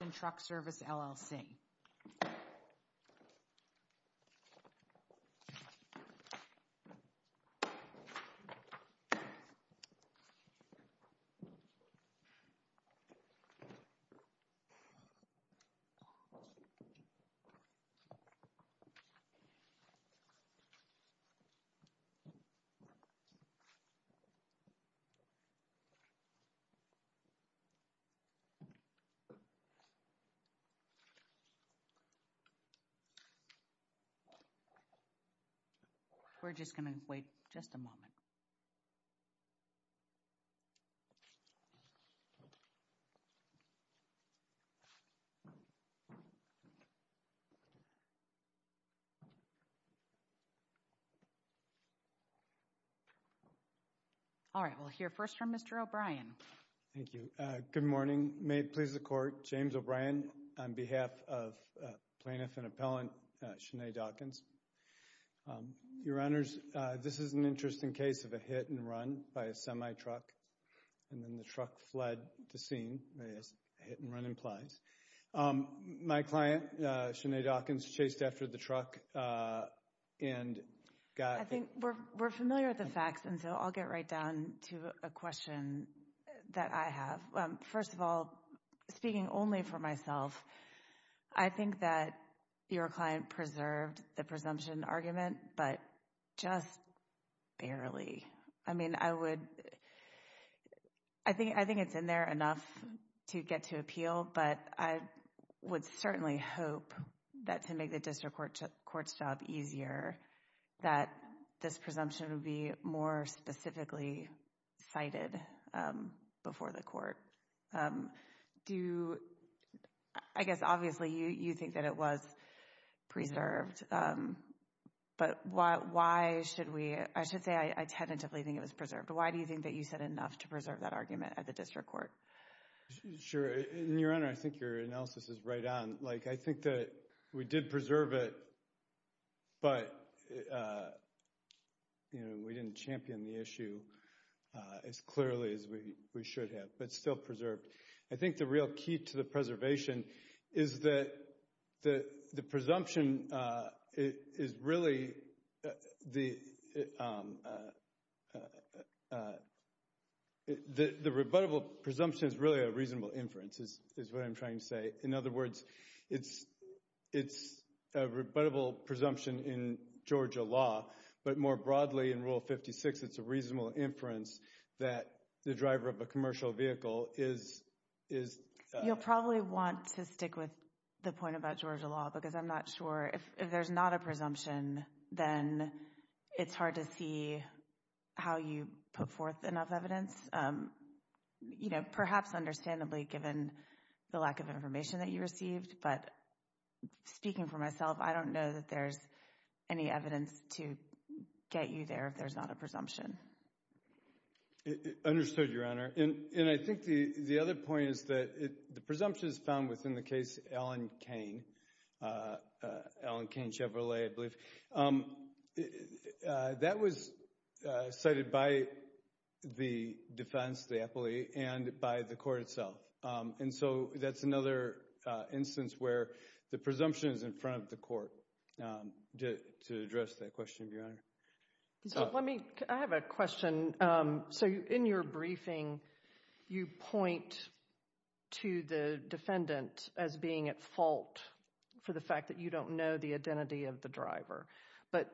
and Truck Service, LLC. We're just going to wait just a moment. All right, we'll hear first from Mr. O'Brien. Thank you. Good morning. May it please the Court, James O'Brien on behalf of Plaintiff and Appellant Shenae Dawkins. Your Honors, this is an interesting case of a hit and run by a semi-truck and then the truck fled the scene, as hit and run implies. My client, Shenae Dawkins, chased after the truck and got... I think we're familiar with the facts and so I'll get right down to a question that I have. First of all, speaking only for myself, I think that your client preserved the presumption argument, but just barely. I mean, I would... I think it's in there enough to get to appeal, but I would certainly hope that to make the district court's job easier, that this presumption would be more specifically cited before the district court. Do you... I guess, obviously, you think that it was preserved, but why should we... I should say I tentatively think it was preserved. Why do you think that you said enough to preserve that argument at the district court? Sure. Your Honor, I think your analysis is right on. I think that we did preserve it, but we didn't champion the issue as clearly as we should have, but it's still preserved. I think the real key to the preservation is that the presumption is really... The rebuttable presumption is really a reasonable inference, is what I'm trying to say. In other words, it's a rebuttable presumption in Georgia law, but more broadly in Rule 56, it's a reasonable inference that the driver of a commercial vehicle is... You'll probably want to stick with the point about Georgia law, because I'm not sure... If there's not a presumption, then it's hard to see how you put forth enough evidence, perhaps understandably given the lack of information that you received, but speaking for myself, I don't know that there's any evidence to get you there if there's not a presumption. Understood, Your Honor. And I think the other point is that the presumption is found within the case Allen-Cain, Allen-Cain-Chevrolet, I believe. That was cited by the defense, the appellee, and by the court itself, and so that's another instance where the presumption is in front of the court. To address that question, Your Honor. Let me... I have a question. So in your briefing, you point to the defendant as being at fault for the fact that you don't know the identity of the driver, but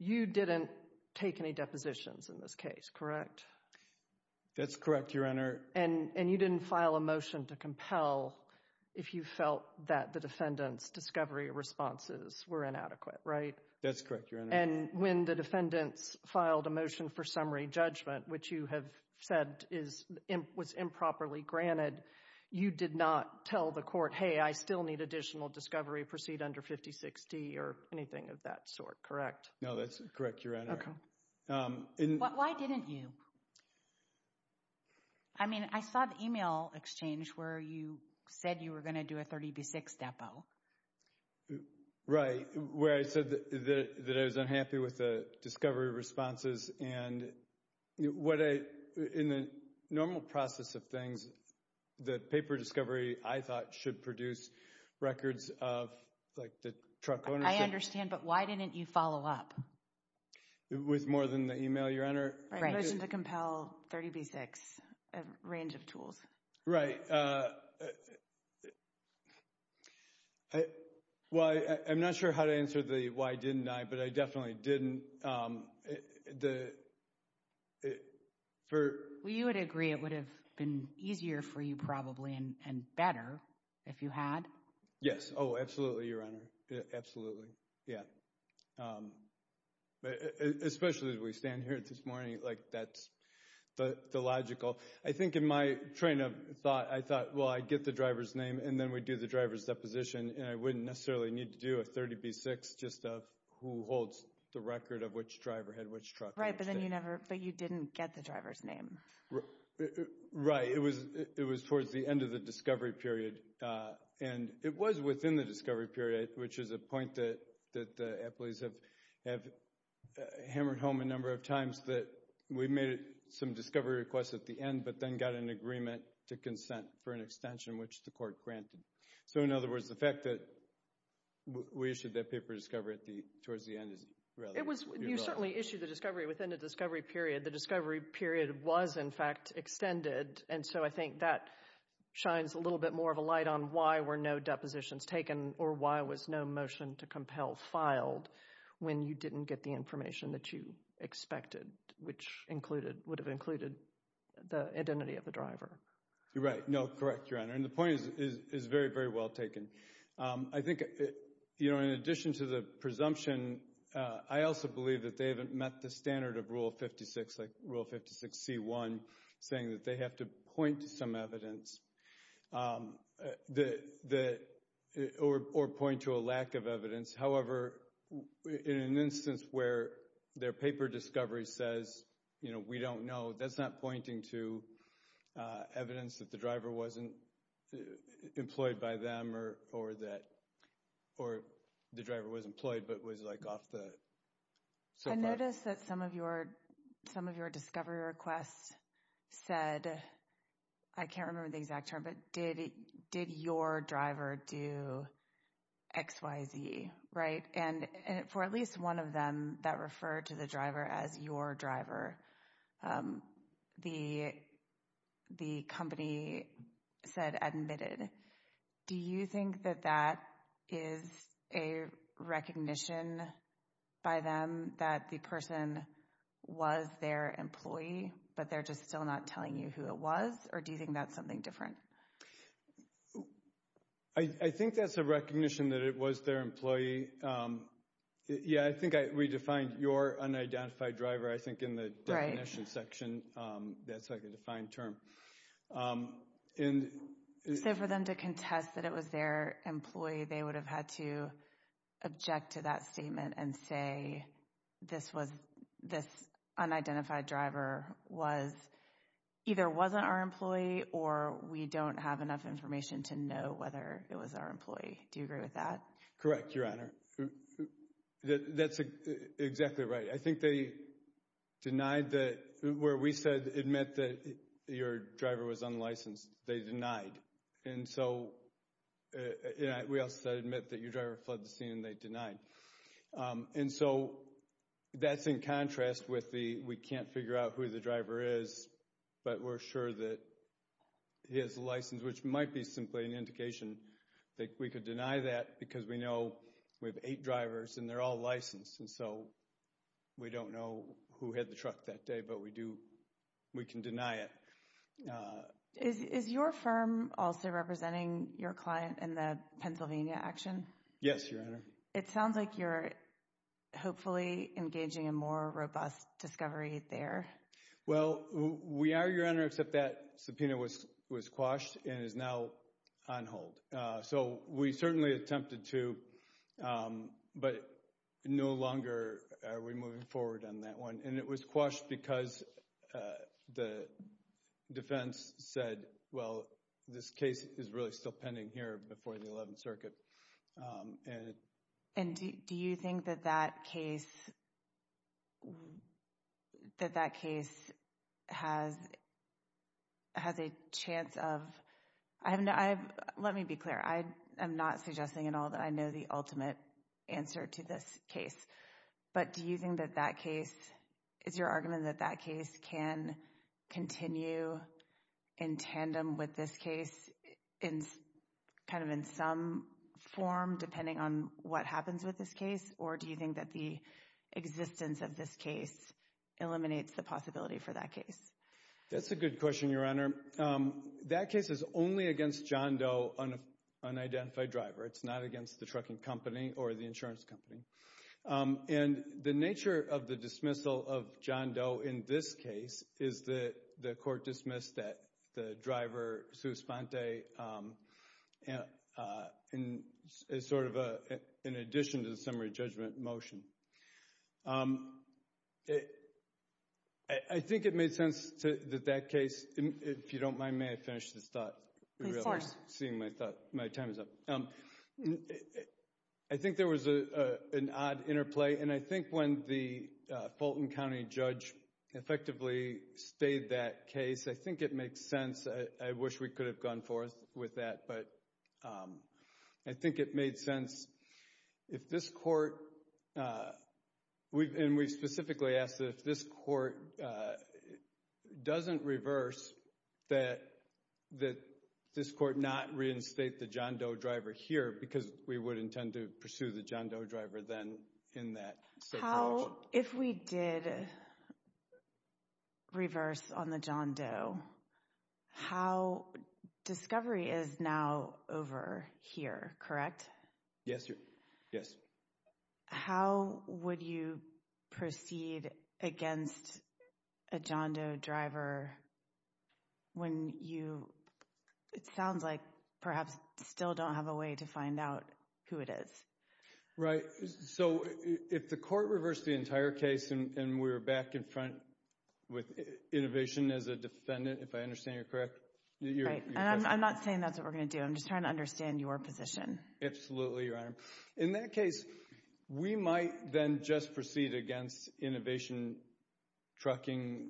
you didn't take any depositions in this case, correct? That's correct, Your Honor. And you didn't file a motion to compel if you felt that the defendant's discovery responses were inadequate, right? That's correct, Your Honor. And when the defendants filed a motion for summary judgment, which you have said was improperly granted, you did not tell the court, hey, I still need additional discovery, proceed under 5060 or anything of that sort, correct? No, that's correct, Your Honor. Why didn't you? I mean, I saw the email exchange where you said you were going to do a 30B6 depo. Right, where I said that I was unhappy with the discovery responses, and in the normal process of things, the paper discovery, I thought, should produce records of the truck ownership. I understand, but why didn't you follow up? With more than the email, Your Honor? A motion to compel 30B6, a range of tools. Right. Well, I'm not sure how to answer the why didn't I, but I definitely didn't. You would agree it would have been easier for you probably, and better if you had. Yes, oh, absolutely, Your Honor, absolutely, yeah. But especially as we stand here this morning, like, that's the logical. I think in my train of thought, I thought, well, I'd get the driver's name, and then we'd do the driver's deposition, and I wouldn't necessarily need to do a 30B6 just of who holds the record of which driver had which truck. Right, but then you never, but you didn't get the driver's name. Right, it was towards the end of the discovery period, and it was within the discovery period, which is a point that the employees have hammered home a number of times, that we made some discovery requests at the end, but then got an agreement to consent for an extension, which the court granted. So, in other words, the fact that we issued that paper discovery towards the end is rather You certainly issued the discovery within the discovery period. The discovery period was, in fact, extended, and so I think that shines a little bit more of a light on why were no depositions taken, or why was no motion to compel filed when you didn't get the information that you expected, which included, would have included the identity of the driver. You're right. No, correct, Your Honor, and the point is very, very well taken. I think, you know, in addition to the presumption, I also believe that they haven't met the standard of Rule 56, like Rule 56C1, saying that they have to point to some evidence, or point to a lack of evidence. However, in an instance where their paper discovery says, you know, we don't know, that's not pointing to evidence that the driver wasn't employed by them, or that the driver was employed, but was like off the soapbox. I noticed that some of your discovery requests said, I can't remember the exact term, but did your driver do X, Y, Z, right? And for at least one of them that referred to the driver as your driver, the company said admitted. Do you think that that is a recognition by them that the person was their employee, but they're just still not telling you who it was, or do you think that's something different? I think that's a recognition that it was their employee. Yeah, I think I redefined your unidentified driver, I think, in the definition section, that's like a defined term. So for them to contest that it was their employee, they would have had to object to that statement and say, this unidentified driver was, either wasn't our employee, or we don't have enough information to know whether it was our employee. Do you agree with that? Correct, Your Honor. That's exactly right. I think they denied that, where we said admit that your driver was unlicensed, they denied. And so, we also said admit that your driver flooded the scene and they denied. And so, that's in contrast with the, we can't figure out who the driver is, but we're sure that he has a license, which might be simply an indication that we could deny that because we know we have eight drivers and they're all licensed, and so we don't know who had the truck that day, but we do, we can deny it. Is your firm also representing your client in the Pennsylvania action? Yes, Your Honor. It sounds like you're hopefully engaging in more robust discovery there. Well, we are, Your Honor, except that subpoena was quashed and is now on hold. So, we certainly attempted to, but no longer are we moving forward on that one. And it was quashed because the defense said, well, this case is really still pending here before the 11th Circuit. And do you think that that case, that that case has a chance of, I haven't, let me be clear, I am not suggesting at all that I know the ultimate answer to this case, but do you think that that case, is your argument that that case can continue in tandem with this case in kind of in some form, depending on what happens with this case? Or do you think that the existence of this case eliminates the possibility for that case? That's a good question, Your Honor. That case is only against John Doe, an unidentified driver. It's not against the trucking company or the insurance company. And the nature of the dismissal of John Doe in this case is that the court dismissed that the driver, Sue Esponte, is sort of an addition to the summary judgment motion. I think it made sense that that case, if you don't mind, may I finish this thought? Please, of course. Seeing my time is up. I think there was an odd interplay, and I think when the Fulton County judge effectively stayed that case, I think it makes sense. I wish we could have gone forth with that, but I think it made sense. If this court, and we specifically asked if this court doesn't reverse that this court not reinstate the John Doe driver here, because we would intend to pursue the John Doe driver then in that state of the law. If we did reverse on the John Doe, how, discovery is now over here, correct? Yes. Yes. How would you proceed against a John Doe driver when you, it sounds like, perhaps still don't have a way to find out who it is? Right. So, if the court reversed the entire case and we're back in front with innovation as a defendant, if I understand you correctly, you're correct. I'm not saying that's what we're going to do, I'm just trying to understand your position. Absolutely, Your Honor. In that case, we might then just proceed against innovation trucking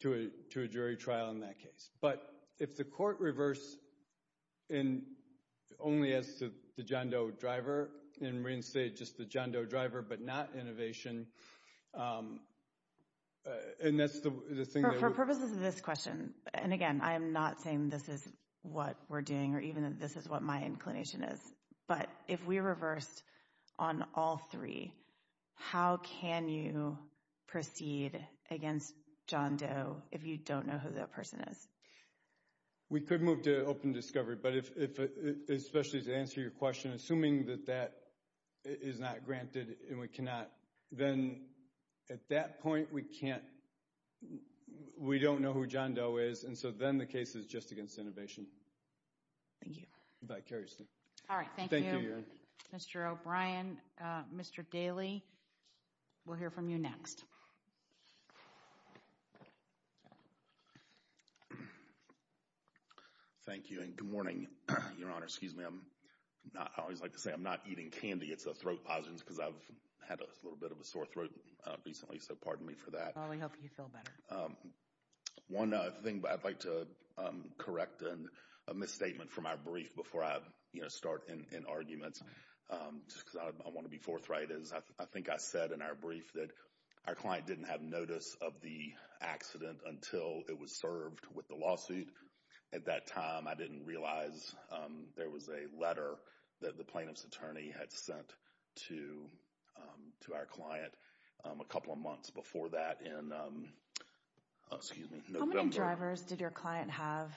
to a jury trial in that But, if the court reversed and only asked the John Doe driver and reinstated just the John Doe driver but not innovation, and that's the thing that we... For purposes of this question, and again, I am not saying this is what we're doing or even that this is what my inclination is, but if we reversed on all three, how can you proceed against John Doe if you don't know who that person is? We could move to open discovery, but if, especially to answer your question, assuming that that is not granted and we cannot, then at that point we can't, we don't know who John Doe is and so then the case is just against innovation. Thank you. Thank you. Thank you. All right. Thank you. Thank you, Your Honor. Mr. O'Brien, Mr. Daley, we'll hear from you next. Thank you and good morning, Your Honor. Excuse me, I'm not... I always like to say I'm not eating candy, it's a throat lozenge because I've had a little bit of a sore throat recently, so pardon me for that. Well, we hope you feel better. One thing I'd like to correct, a misstatement from our brief before I start in arguments, just because I want to be forthright, is I think I said in our brief that our client didn't have notice of the accident until it was served with the lawsuit. At that time, I didn't realize there was a letter that the plaintiff's attorney had sent to our client a couple of months before that in November. How many drivers did your client have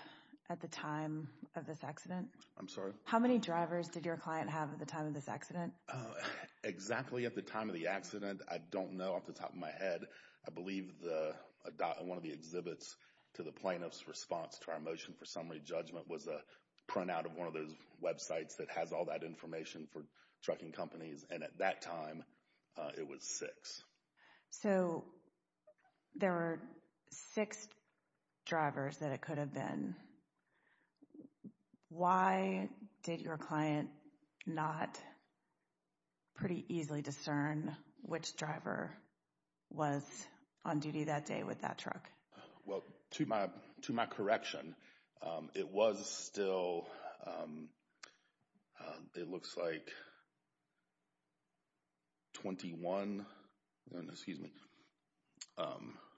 at the time of this accident? I'm sorry? How many drivers did your client have at the time of this accident? Exactly at the time of the accident, I don't know off the top of my head. I believe one of the exhibits to the plaintiff's response to our motion for summary judgment was a printout of one of those websites that has all that information for trucking companies, and at that time, it was six. So, there were six drivers that it could have been. Why did your client not pretty easily discern which driver was on duty that day with that truck? Well, to my correction, it was still, it looks like 21, excuse me,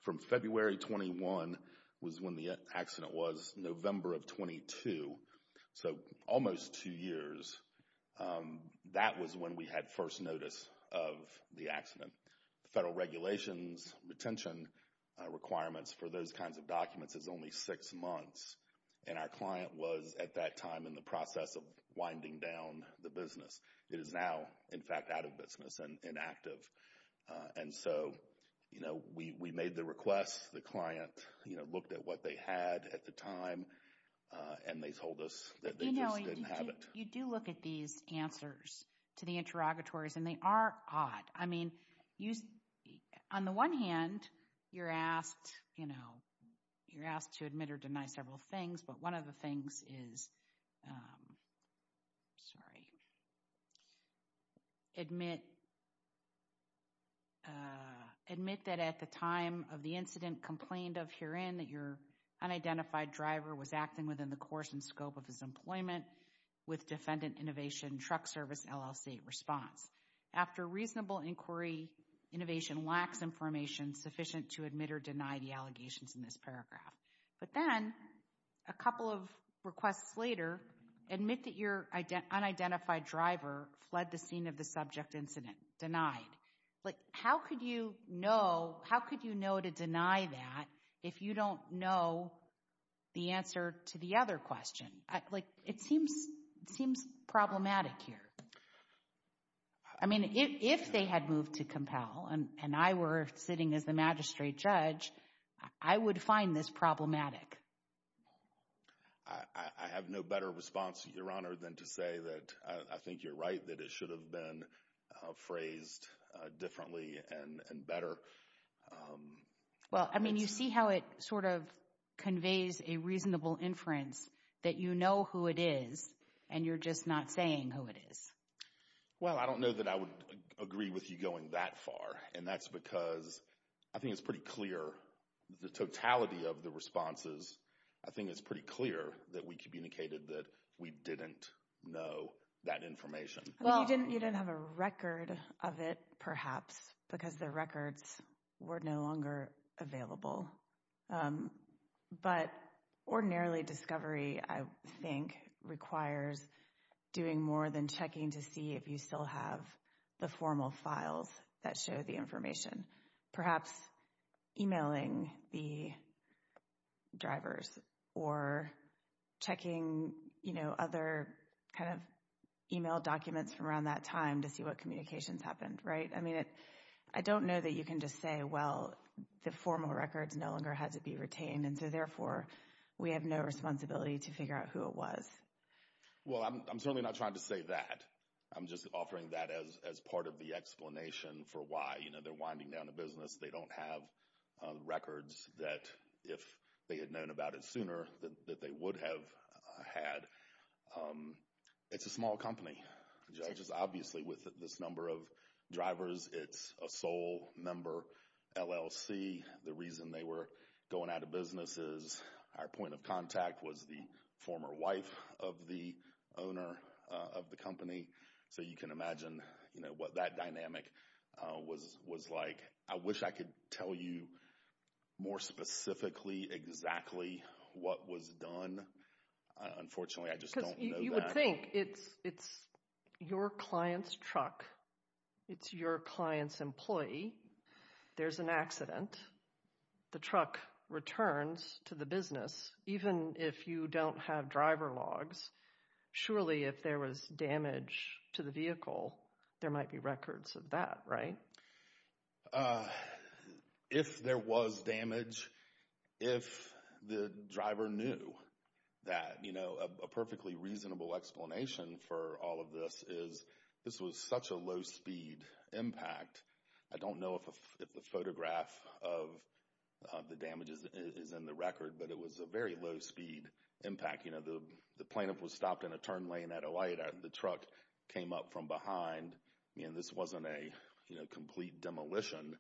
from February 21 was when the accident was, November of 22, so almost two years. That was when we had first notice of the accident. Federal regulations, retention requirements for those kinds of documents is only six months, and our client was, at that time, in the process of winding down the business. It is now, in fact, out of business and inactive. And so, you know, we made the request, the client, you know, looked at what they had at the time, and they told us that they just didn't have it. You do look at these answers to the interrogatories, and they are odd. I mean, on the one hand, you're asked, you know, you're asked to admit or deny several things, but one of the things is, sorry, admit that at the time of the incident complained of herein that your unidentified driver was acting within the course and scope of his employment with Defendant Innovation Truck Service LLC response. After reasonable inquiry, innovation lacks information sufficient to admit or deny the allegations in this paragraph. But then, a couple of requests later, admit that your unidentified driver fled the scene of the subject incident, denied. Like, how could you know, how could you know to deny that if you don't know the answer to the other question? Like, it seems, it seems problematic here. I mean, if they had moved to compel, and I were sitting as the magistrate judge, I would find this problematic. I have no better response, Your Honor, than to say that I think you're right, that it should have been phrased differently and better. Well, I mean, you see how it sort of conveys a reasonable inference that you know who it is, and you're just not saying who it is. Well, I don't know that I would agree with you going that far. And that's because I think it's pretty clear, the totality of the responses, I think it's pretty clear that we communicated that we didn't know that information. Well, you didn't have a record of it, perhaps, because the records were no longer available. But ordinarily, discovery, I think, requires doing more than checking to see if you still have the formal files that show the information, perhaps emailing the drivers or checking, you know, other kind of email documents from around that time to see what communications happened, right? I don't know that you can just say, well, the formal records no longer had to be retained, and so therefore, we have no responsibility to figure out who it was. Well, I'm certainly not trying to say that. I'm just offering that as part of the explanation for why, you know, they're winding down a business. They don't have records that, if they had known about it sooner, that they would have had. But it's a small company, just obviously with this number of drivers. It's a sole member LLC. The reason they were going out of business is our point of contact was the former wife of the owner of the company. So you can imagine, you know, what that dynamic was like. I wish I could tell you more specifically exactly what was done. Unfortunately, I just don't know that. You would think it's your client's truck. It's your client's employee. There's an accident. The truck returns to the business, even if you don't have driver logs. Surely, if there was damage to the vehicle, there might be records of that, right? If there was damage, if the driver knew that, you know, a perfectly reasonable explanation for all of this is this was such a low-speed impact. I don't know if the photograph of the damage is in the record, but it was a very low-speed impact. You know, the plaintiff was stopped in a turn lane at a light. The truck came up from behind. I mean, this wasn't a, you know, complete demolition.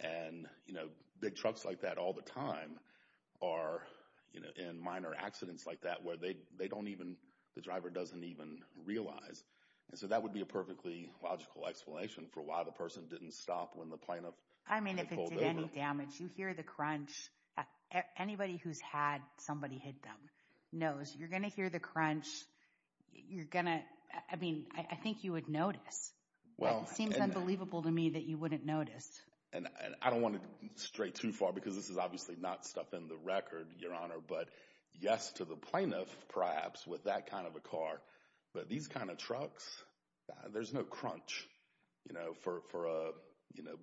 And, you know, big trucks like that all the time are, you know, in minor accidents like that where they don't even, the driver doesn't even realize. And so that would be a perfectly logical explanation for why the person didn't stop when the plaintiff pulled over. I mean, if it did any damage, you hear the crunch. Anybody who's had somebody hit them knows you're going to hear the crunch. You're going to, I mean, I think you would notice. Well, it seems unbelievable to me that you wouldn't notice. And I don't want to stray too far because this is obviously not stuff in the record, Your Honor, but yes to the plaintiff, perhaps, with that kind of a car. But these kind of trucks, there's no crunch, you know, for a, you know,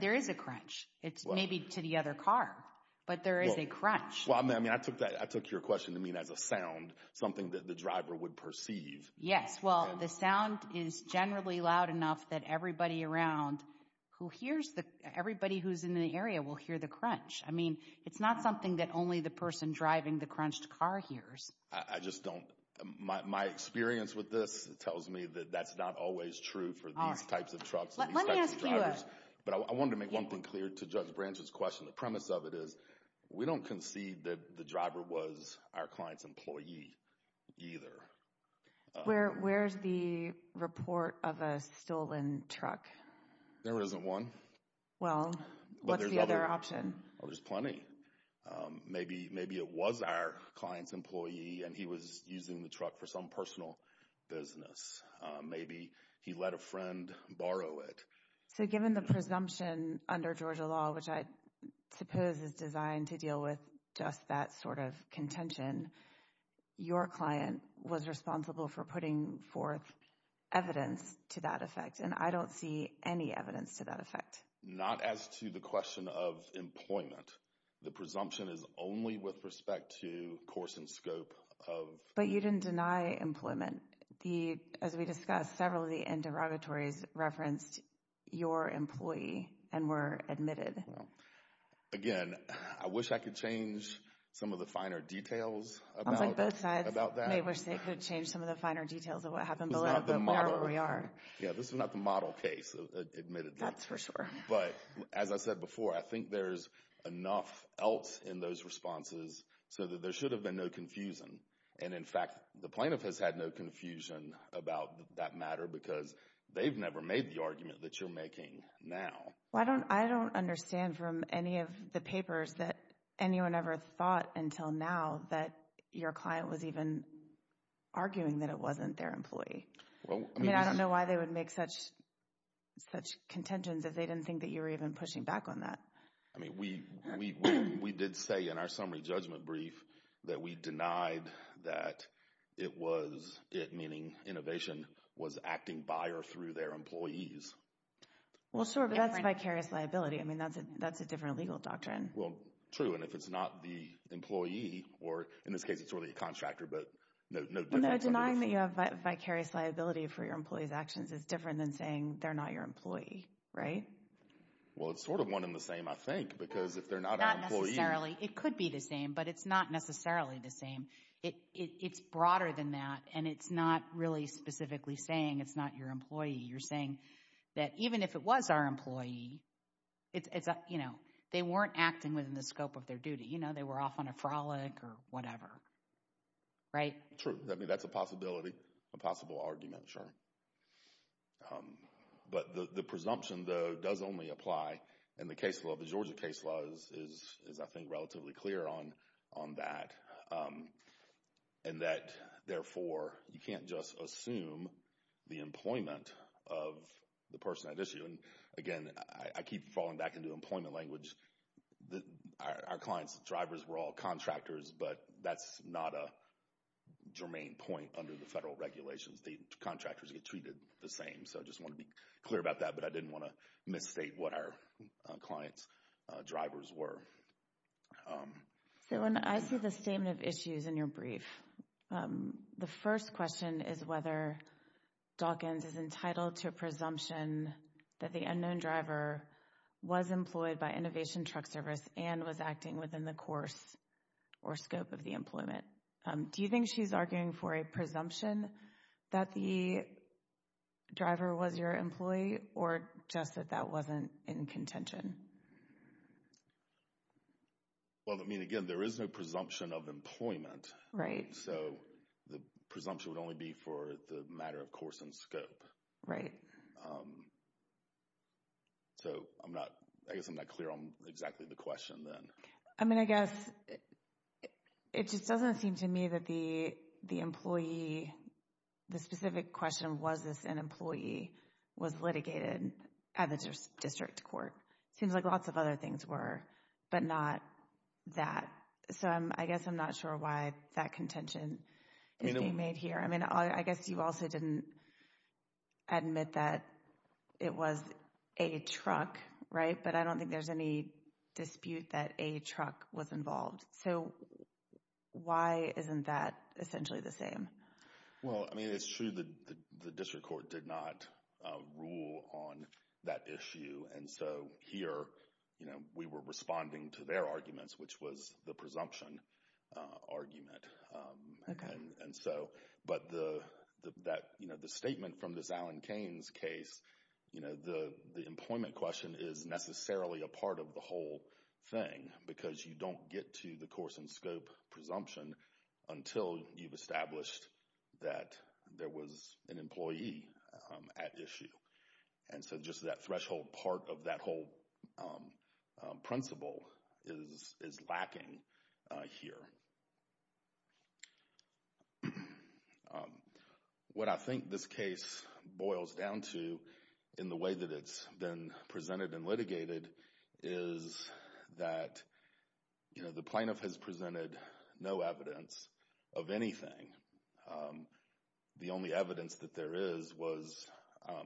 There is a crunch. It's maybe to the other car, but there is a crunch. Well, I mean, I took that, I took your question to mean as a sound, something that the driver would perceive. Yes. Well, the sound is generally loud enough that everybody around who hears the, everybody who's in the area will hear the crunch. I mean, it's not something that only the person driving the crunched car hears. I just don't, my experience with this tells me that that's not always true for these types of trucks, these types of drivers. But I wanted to make one thing clear to Judge Branch's question. The premise of it is we don't concede that the driver was our client's employee either. Where's the report of a stolen truck? There isn't one. Well, what's the other option? Well, there's plenty. Maybe it was our client's employee and he was using the truck for some personal business. Maybe he let a friend borrow it. So given the presumption under Georgia law, which I suppose is designed to deal with just that sort of contention, your client was responsible for putting forth evidence to that effect. And I don't see any evidence to that effect. Not as to the question of employment. The presumption is only with respect to course and scope of- But you didn't deny employment. The, as we discussed, several of the interrogatories referenced your employee and were admitted. Well, again, I wish I could change some of the finer details about that. I was like, both sides may wish they could change some of the finer details of what happened below, but we are where we are. Yeah, this is not the model case, admittedly. That's for sure. But as I said before, I think there's enough else in those responses so that there should have been no confusion. And in fact, the plaintiff has had no confusion about that matter because they've never made the argument that you're making now. Well, I don't understand from any of the papers that anyone ever thought until now that your client was even arguing that it wasn't their employee. I mean, I don't know why they would make such contentions if they didn't think that you were even pushing back on that. I mean, we did say in our summary judgment brief that we denied that it was, it meaning innovation, was acting buyer through their employees. Well, sure. But that's vicarious liability. I mean, that's a different legal doctrine. Well, true. And if it's not the employee, or in this case, it's really a contractor. But no denying that you have vicarious liability for your employee's actions is different than saying they're not your employee, right? Well, it's sort of one in the same, I think, because if they're not an employee... It could be the same, but it's not necessarily the same. It's broader than that. And it's not really specifically saying it's not your employee. You're saying that even if it was our employee, it's, you know, they weren't acting within the scope of their duty. You know, they were off on a frolic or whatever, right? True. I mean, that's a possibility, a possible argument, sure. But the presumption, though, does only apply in the case law. The Georgia case law is, I think, relatively clear on that. And that, therefore, you can't just assume the employment of the person at issue. And again, I keep falling back into employment language. Our client's drivers were all contractors, but that's not a germane point under the federal regulations. The contractors get treated the same. So I just want to be clear about that, but I didn't want to misstate what our client's drivers were. So when I see the statement of issues in your brief, the first question is whether Dawkins is entitled to a presumption that the unknown driver was employed by Innovation Truck Service and was acting within the course or scope of the employment. Do you think she's arguing for a presumption that the driver was your employee or just that that wasn't in contention? Well, I mean, again, there is no presumption of employment. So the presumption would only be for the matter of course and scope. Right. So I'm not, I guess I'm not clear on exactly the question then. I mean, I guess it just doesn't seem to me that the employee, the specific question, was this an employee, was litigated at the district court. Seems like lots of other things were, but not that. So I guess I'm not sure why that contention is being made here. I mean, I guess you also didn't admit that it was a truck, right? But I don't think there's any dispute that a truck was involved. So why isn't that essentially the same? Well, I mean, it's true that the district court did not rule on that issue. And so here, we were responding to their arguments, which was the presumption argument. And so, but the statement from this Alan Cain's case, the employment question is necessarily a part of the whole thing. Because you don't get to the course and scope presumption until you've established that there was an employee at issue. And so just that threshold part of that whole principle is lacking here. What I think this case boils down to in the way that it's been presented and litigated is that, you know, the plaintiff has presented no evidence of anything. The only evidence that there is was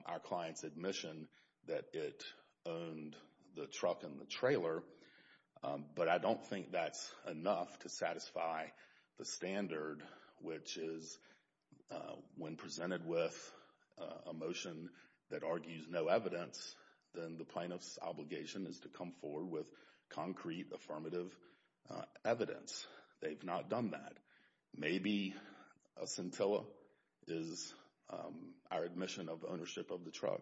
our client's admission that it owned the truck and the trailer. But I don't think that's enough to satisfy the standard, which is when presented with a motion that argues no evidence, then the plaintiff's obligation is to come forward with concrete affirmative evidence. They've not done that. Maybe a scintilla is our admission of ownership of the truck.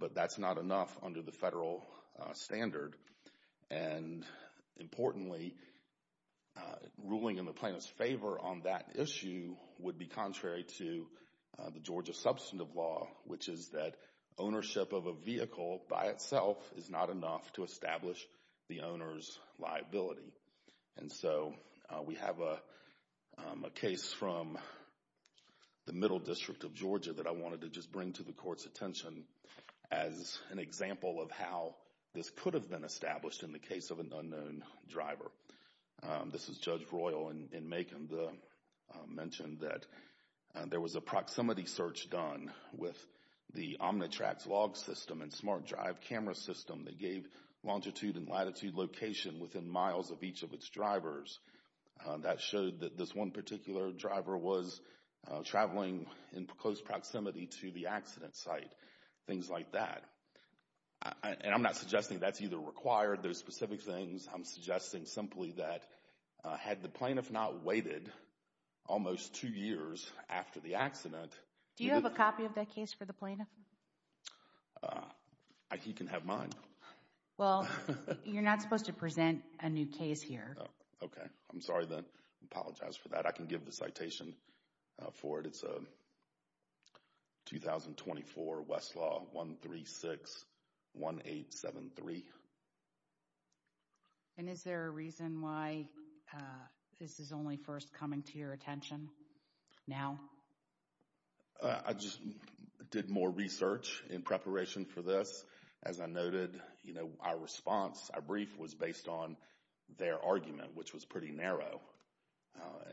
But that's not enough under the federal standard. And importantly, ruling in the plaintiff's favor on that issue would be contrary to the Georgia substantive law, which is that ownership of a vehicle by itself is not enough to establish the owner's liability. And so we have a case from the Middle District of Georgia that I wanted to just bring to the Court's attention as an example of how this could have been established in the case of an unknown driver. This is Judge Royal in Macon that mentioned that there was a proximity search done with the Omnitracks log system and SmartDrive camera system that gave longitude and latitude location within miles of each of its drivers. That showed that this one particular driver was traveling in close proximity to the accident site, things like that. And I'm not suggesting that's either required, those specific things. I'm suggesting simply that had the plaintiff not waited almost two years after the accident... Do you have a copy of that case for the plaintiff? Uh, he can have mine. Well, you're not supposed to present a new case here. Okay, I'm sorry then. I apologize for that. I can give the citation for it. It's 2024 Westlaw 1361873. And is there a reason why this is only first coming to your attention now? Uh, I just did more research in preparation for this. As I noted, you know, our response, our brief was based on their argument, which was pretty narrow.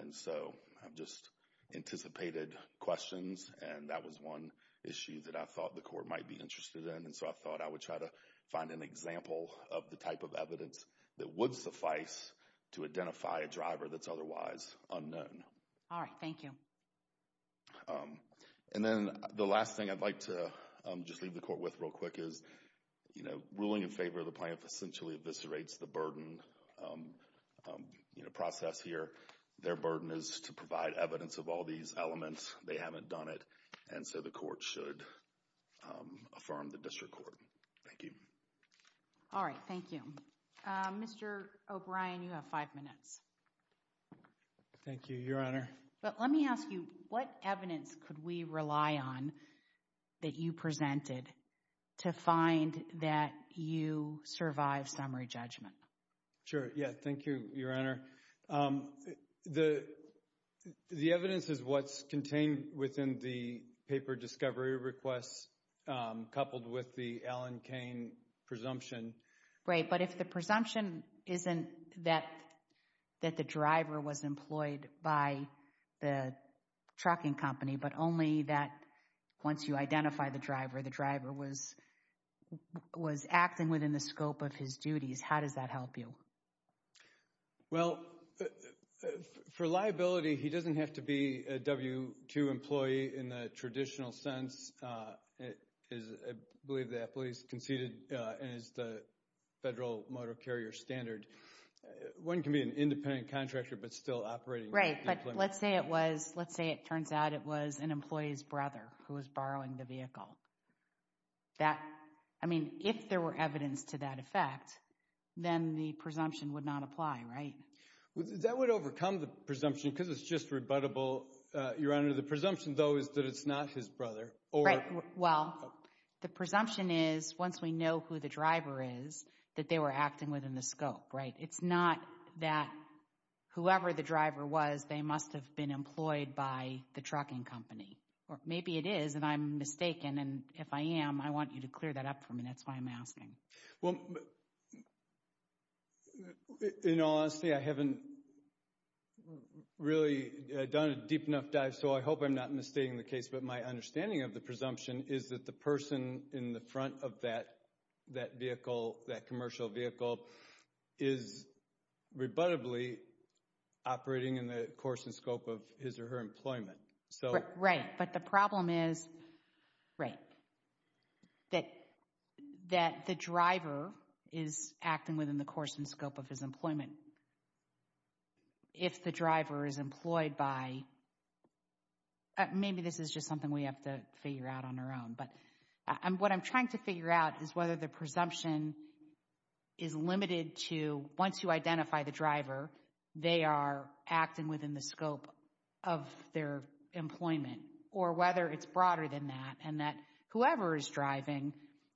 And so I've just anticipated questions. And that was one issue that I thought the court might be interested in. And so I thought I would try to find an example of the type of evidence that would suffice to identify a driver that's otherwise unknown. All right, thank you. Um, and then the last thing I'd like to just leave the court with real quick is, you know, ruling in favor of the plaintiff essentially eviscerates the burden, you know, process here. Their burden is to provide evidence of all these elements. They haven't done it. And so the court should affirm the district court. Thank you. All right, thank you. Mr. O'Brien, you have five minutes. Thank you, Your Honor. But let me ask you, what evidence could we rely on that you presented to find that you survive summary judgment? Sure. Yeah. Thank you, Your Honor. The evidence is what's contained within the paper discovery requests coupled with the Alan Kane presumption. Right. But if the presumption isn't that the driver was employed by the trucking company, but only that once you identify the driver, the driver was acting within the scope of his duties, how does that help you? Well, for liability, he doesn't have to be a W-2 employee in the traditional sense. It is, I believe that police conceded as the federal motor carrier standard. One can be an independent contractor, but still operating. But let's say it was, let's say it turns out it was an employee's brother who was borrowing the vehicle. That, I mean, if there were evidence to that effect, then the presumption would not apply, right? That would overcome the presumption because it's just rebuttable. Your Honor, the presumption though is that it's not his brother Well, the presumption is once we know who the driver is, that they were acting within the scope, right? It's not that whoever the driver was, they must have been employed by the trucking company. Or maybe it is, and I'm mistaken. And if I am, I want you to clear that up for me. That's why I'm asking. Well, in all honesty, I haven't really done a deep enough dive. So I hope I'm not mistaking the case. But my understanding of the presumption is that the person in the front of that vehicle, that commercial vehicle, is rebuttably operating in the course and scope of his or her employment. Right, but the problem is, right, that the driver is acting within the course and scope of his employment. If the driver is employed by, and maybe this is just something we have to figure out on our own, but what I'm trying to figure out is whether the presumption is limited to once you identify the driver, they are acting within the scope of their employment. Or whether it's broader than that, and that whoever is driving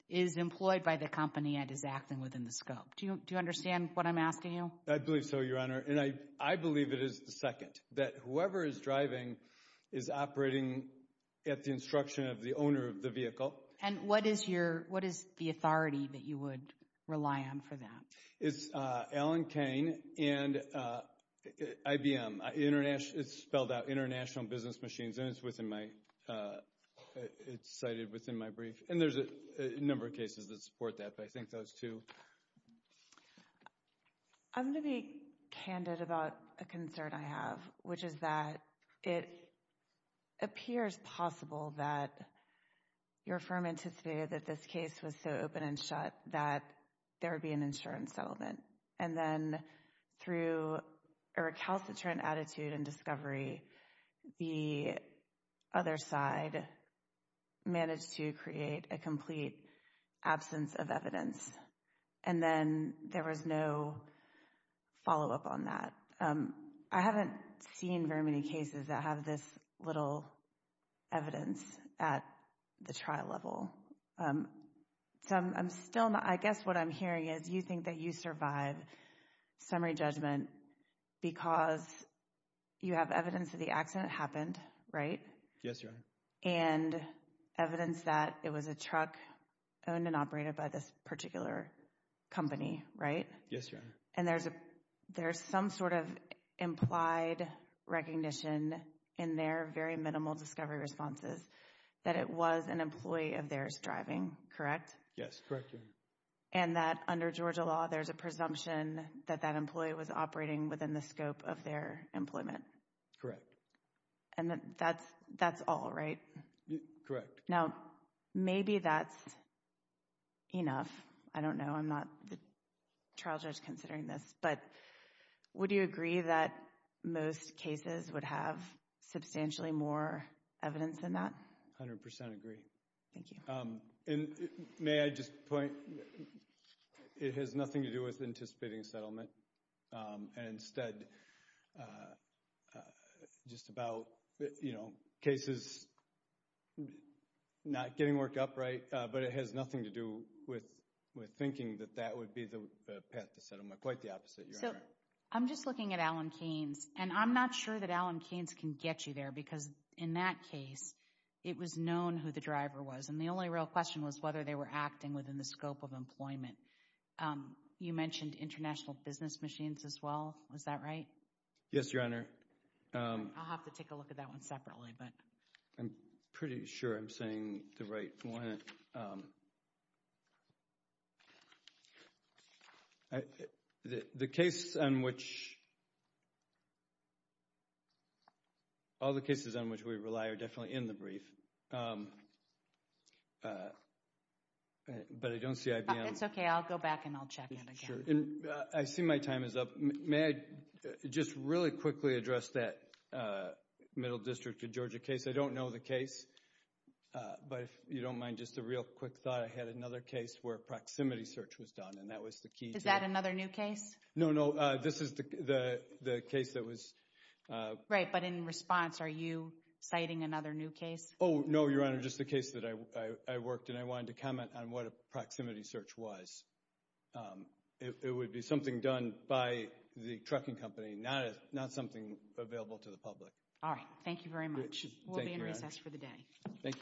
is employed by the company and is acting within the scope. Do you understand what I'm asking you? I believe so, Your Honor. And I believe it is the second, that whoever is driving is operating at the instruction of the owner of the vehicle. And what is the authority that you would rely on for that? It's Allen Cain and IBM. It's spelled out International Business Machines, and it's cited within my brief. And there's a number of cases that support that, but I think those two. I'm going to be candid about a concern I have. Which is that it appears possible that your firm anticipated that this case was so open and shut that there would be an insurance settlement. And then through a recalcitrant attitude and discovery, the other side managed to create a complete absence of evidence. And then there was no follow-up on that. I haven't seen very many cases that have this little evidence at the trial level. So I'm still not, I guess what I'm hearing is, you think that you survive summary judgment because you have evidence that the accident happened, right? Yes, Your Honor. And evidence that it was a truck owned and operated by this particular company, right? Yes, Your Honor. And there's some sort of implied recognition in their very minimal discovery responses that it was an employee of theirs driving, correct? Yes, correct, Your Honor. And that under Georgia law, there's a presumption that that employee was operating within the scope of their employment. Correct. And that's all, right? Correct. Now, maybe that's enough. I don't know, I'm not the trial judge considering this, but would you agree that most cases would have substantially more evidence than that? 100% agree. Thank you. And may I just point, it has nothing to do with anticipating settlement. And instead, just about, you know, cases not getting worked up, right? But it has nothing to do with thinking that that would be the path to settlement. Quite the opposite, Your Honor. So, I'm just looking at Allen Keynes, and I'm not sure that Allen Keynes can get you there because in that case, it was known who the driver was. And the only real question was whether they were acting within the scope of employment. You mentioned international business machines as well. Was that right? Yes, Your Honor. I'll have to take a look at that one separately, but... I'm pretty sure I'm saying the right one. All the cases on which we rely are definitely in the brief. But I don't see IBM. It's okay. I'll go back and I'll check it again. I see my time is up. May I just really quickly address that Middle District of Georgia case? I don't know the case, but if you don't mind, just a real quick thought. I had another case where proximity search was done, and that was the key. Is that another new case? No, no. This is the case that was... Right, but in response, are you citing another new case? Oh, no, Your Honor. Just the case that I worked, and I wanted to comment on what a proximity search was. It would be something done by the trucking company, not something available to the public. All right. Thank you very much. We'll be in recess for the day. Thank you.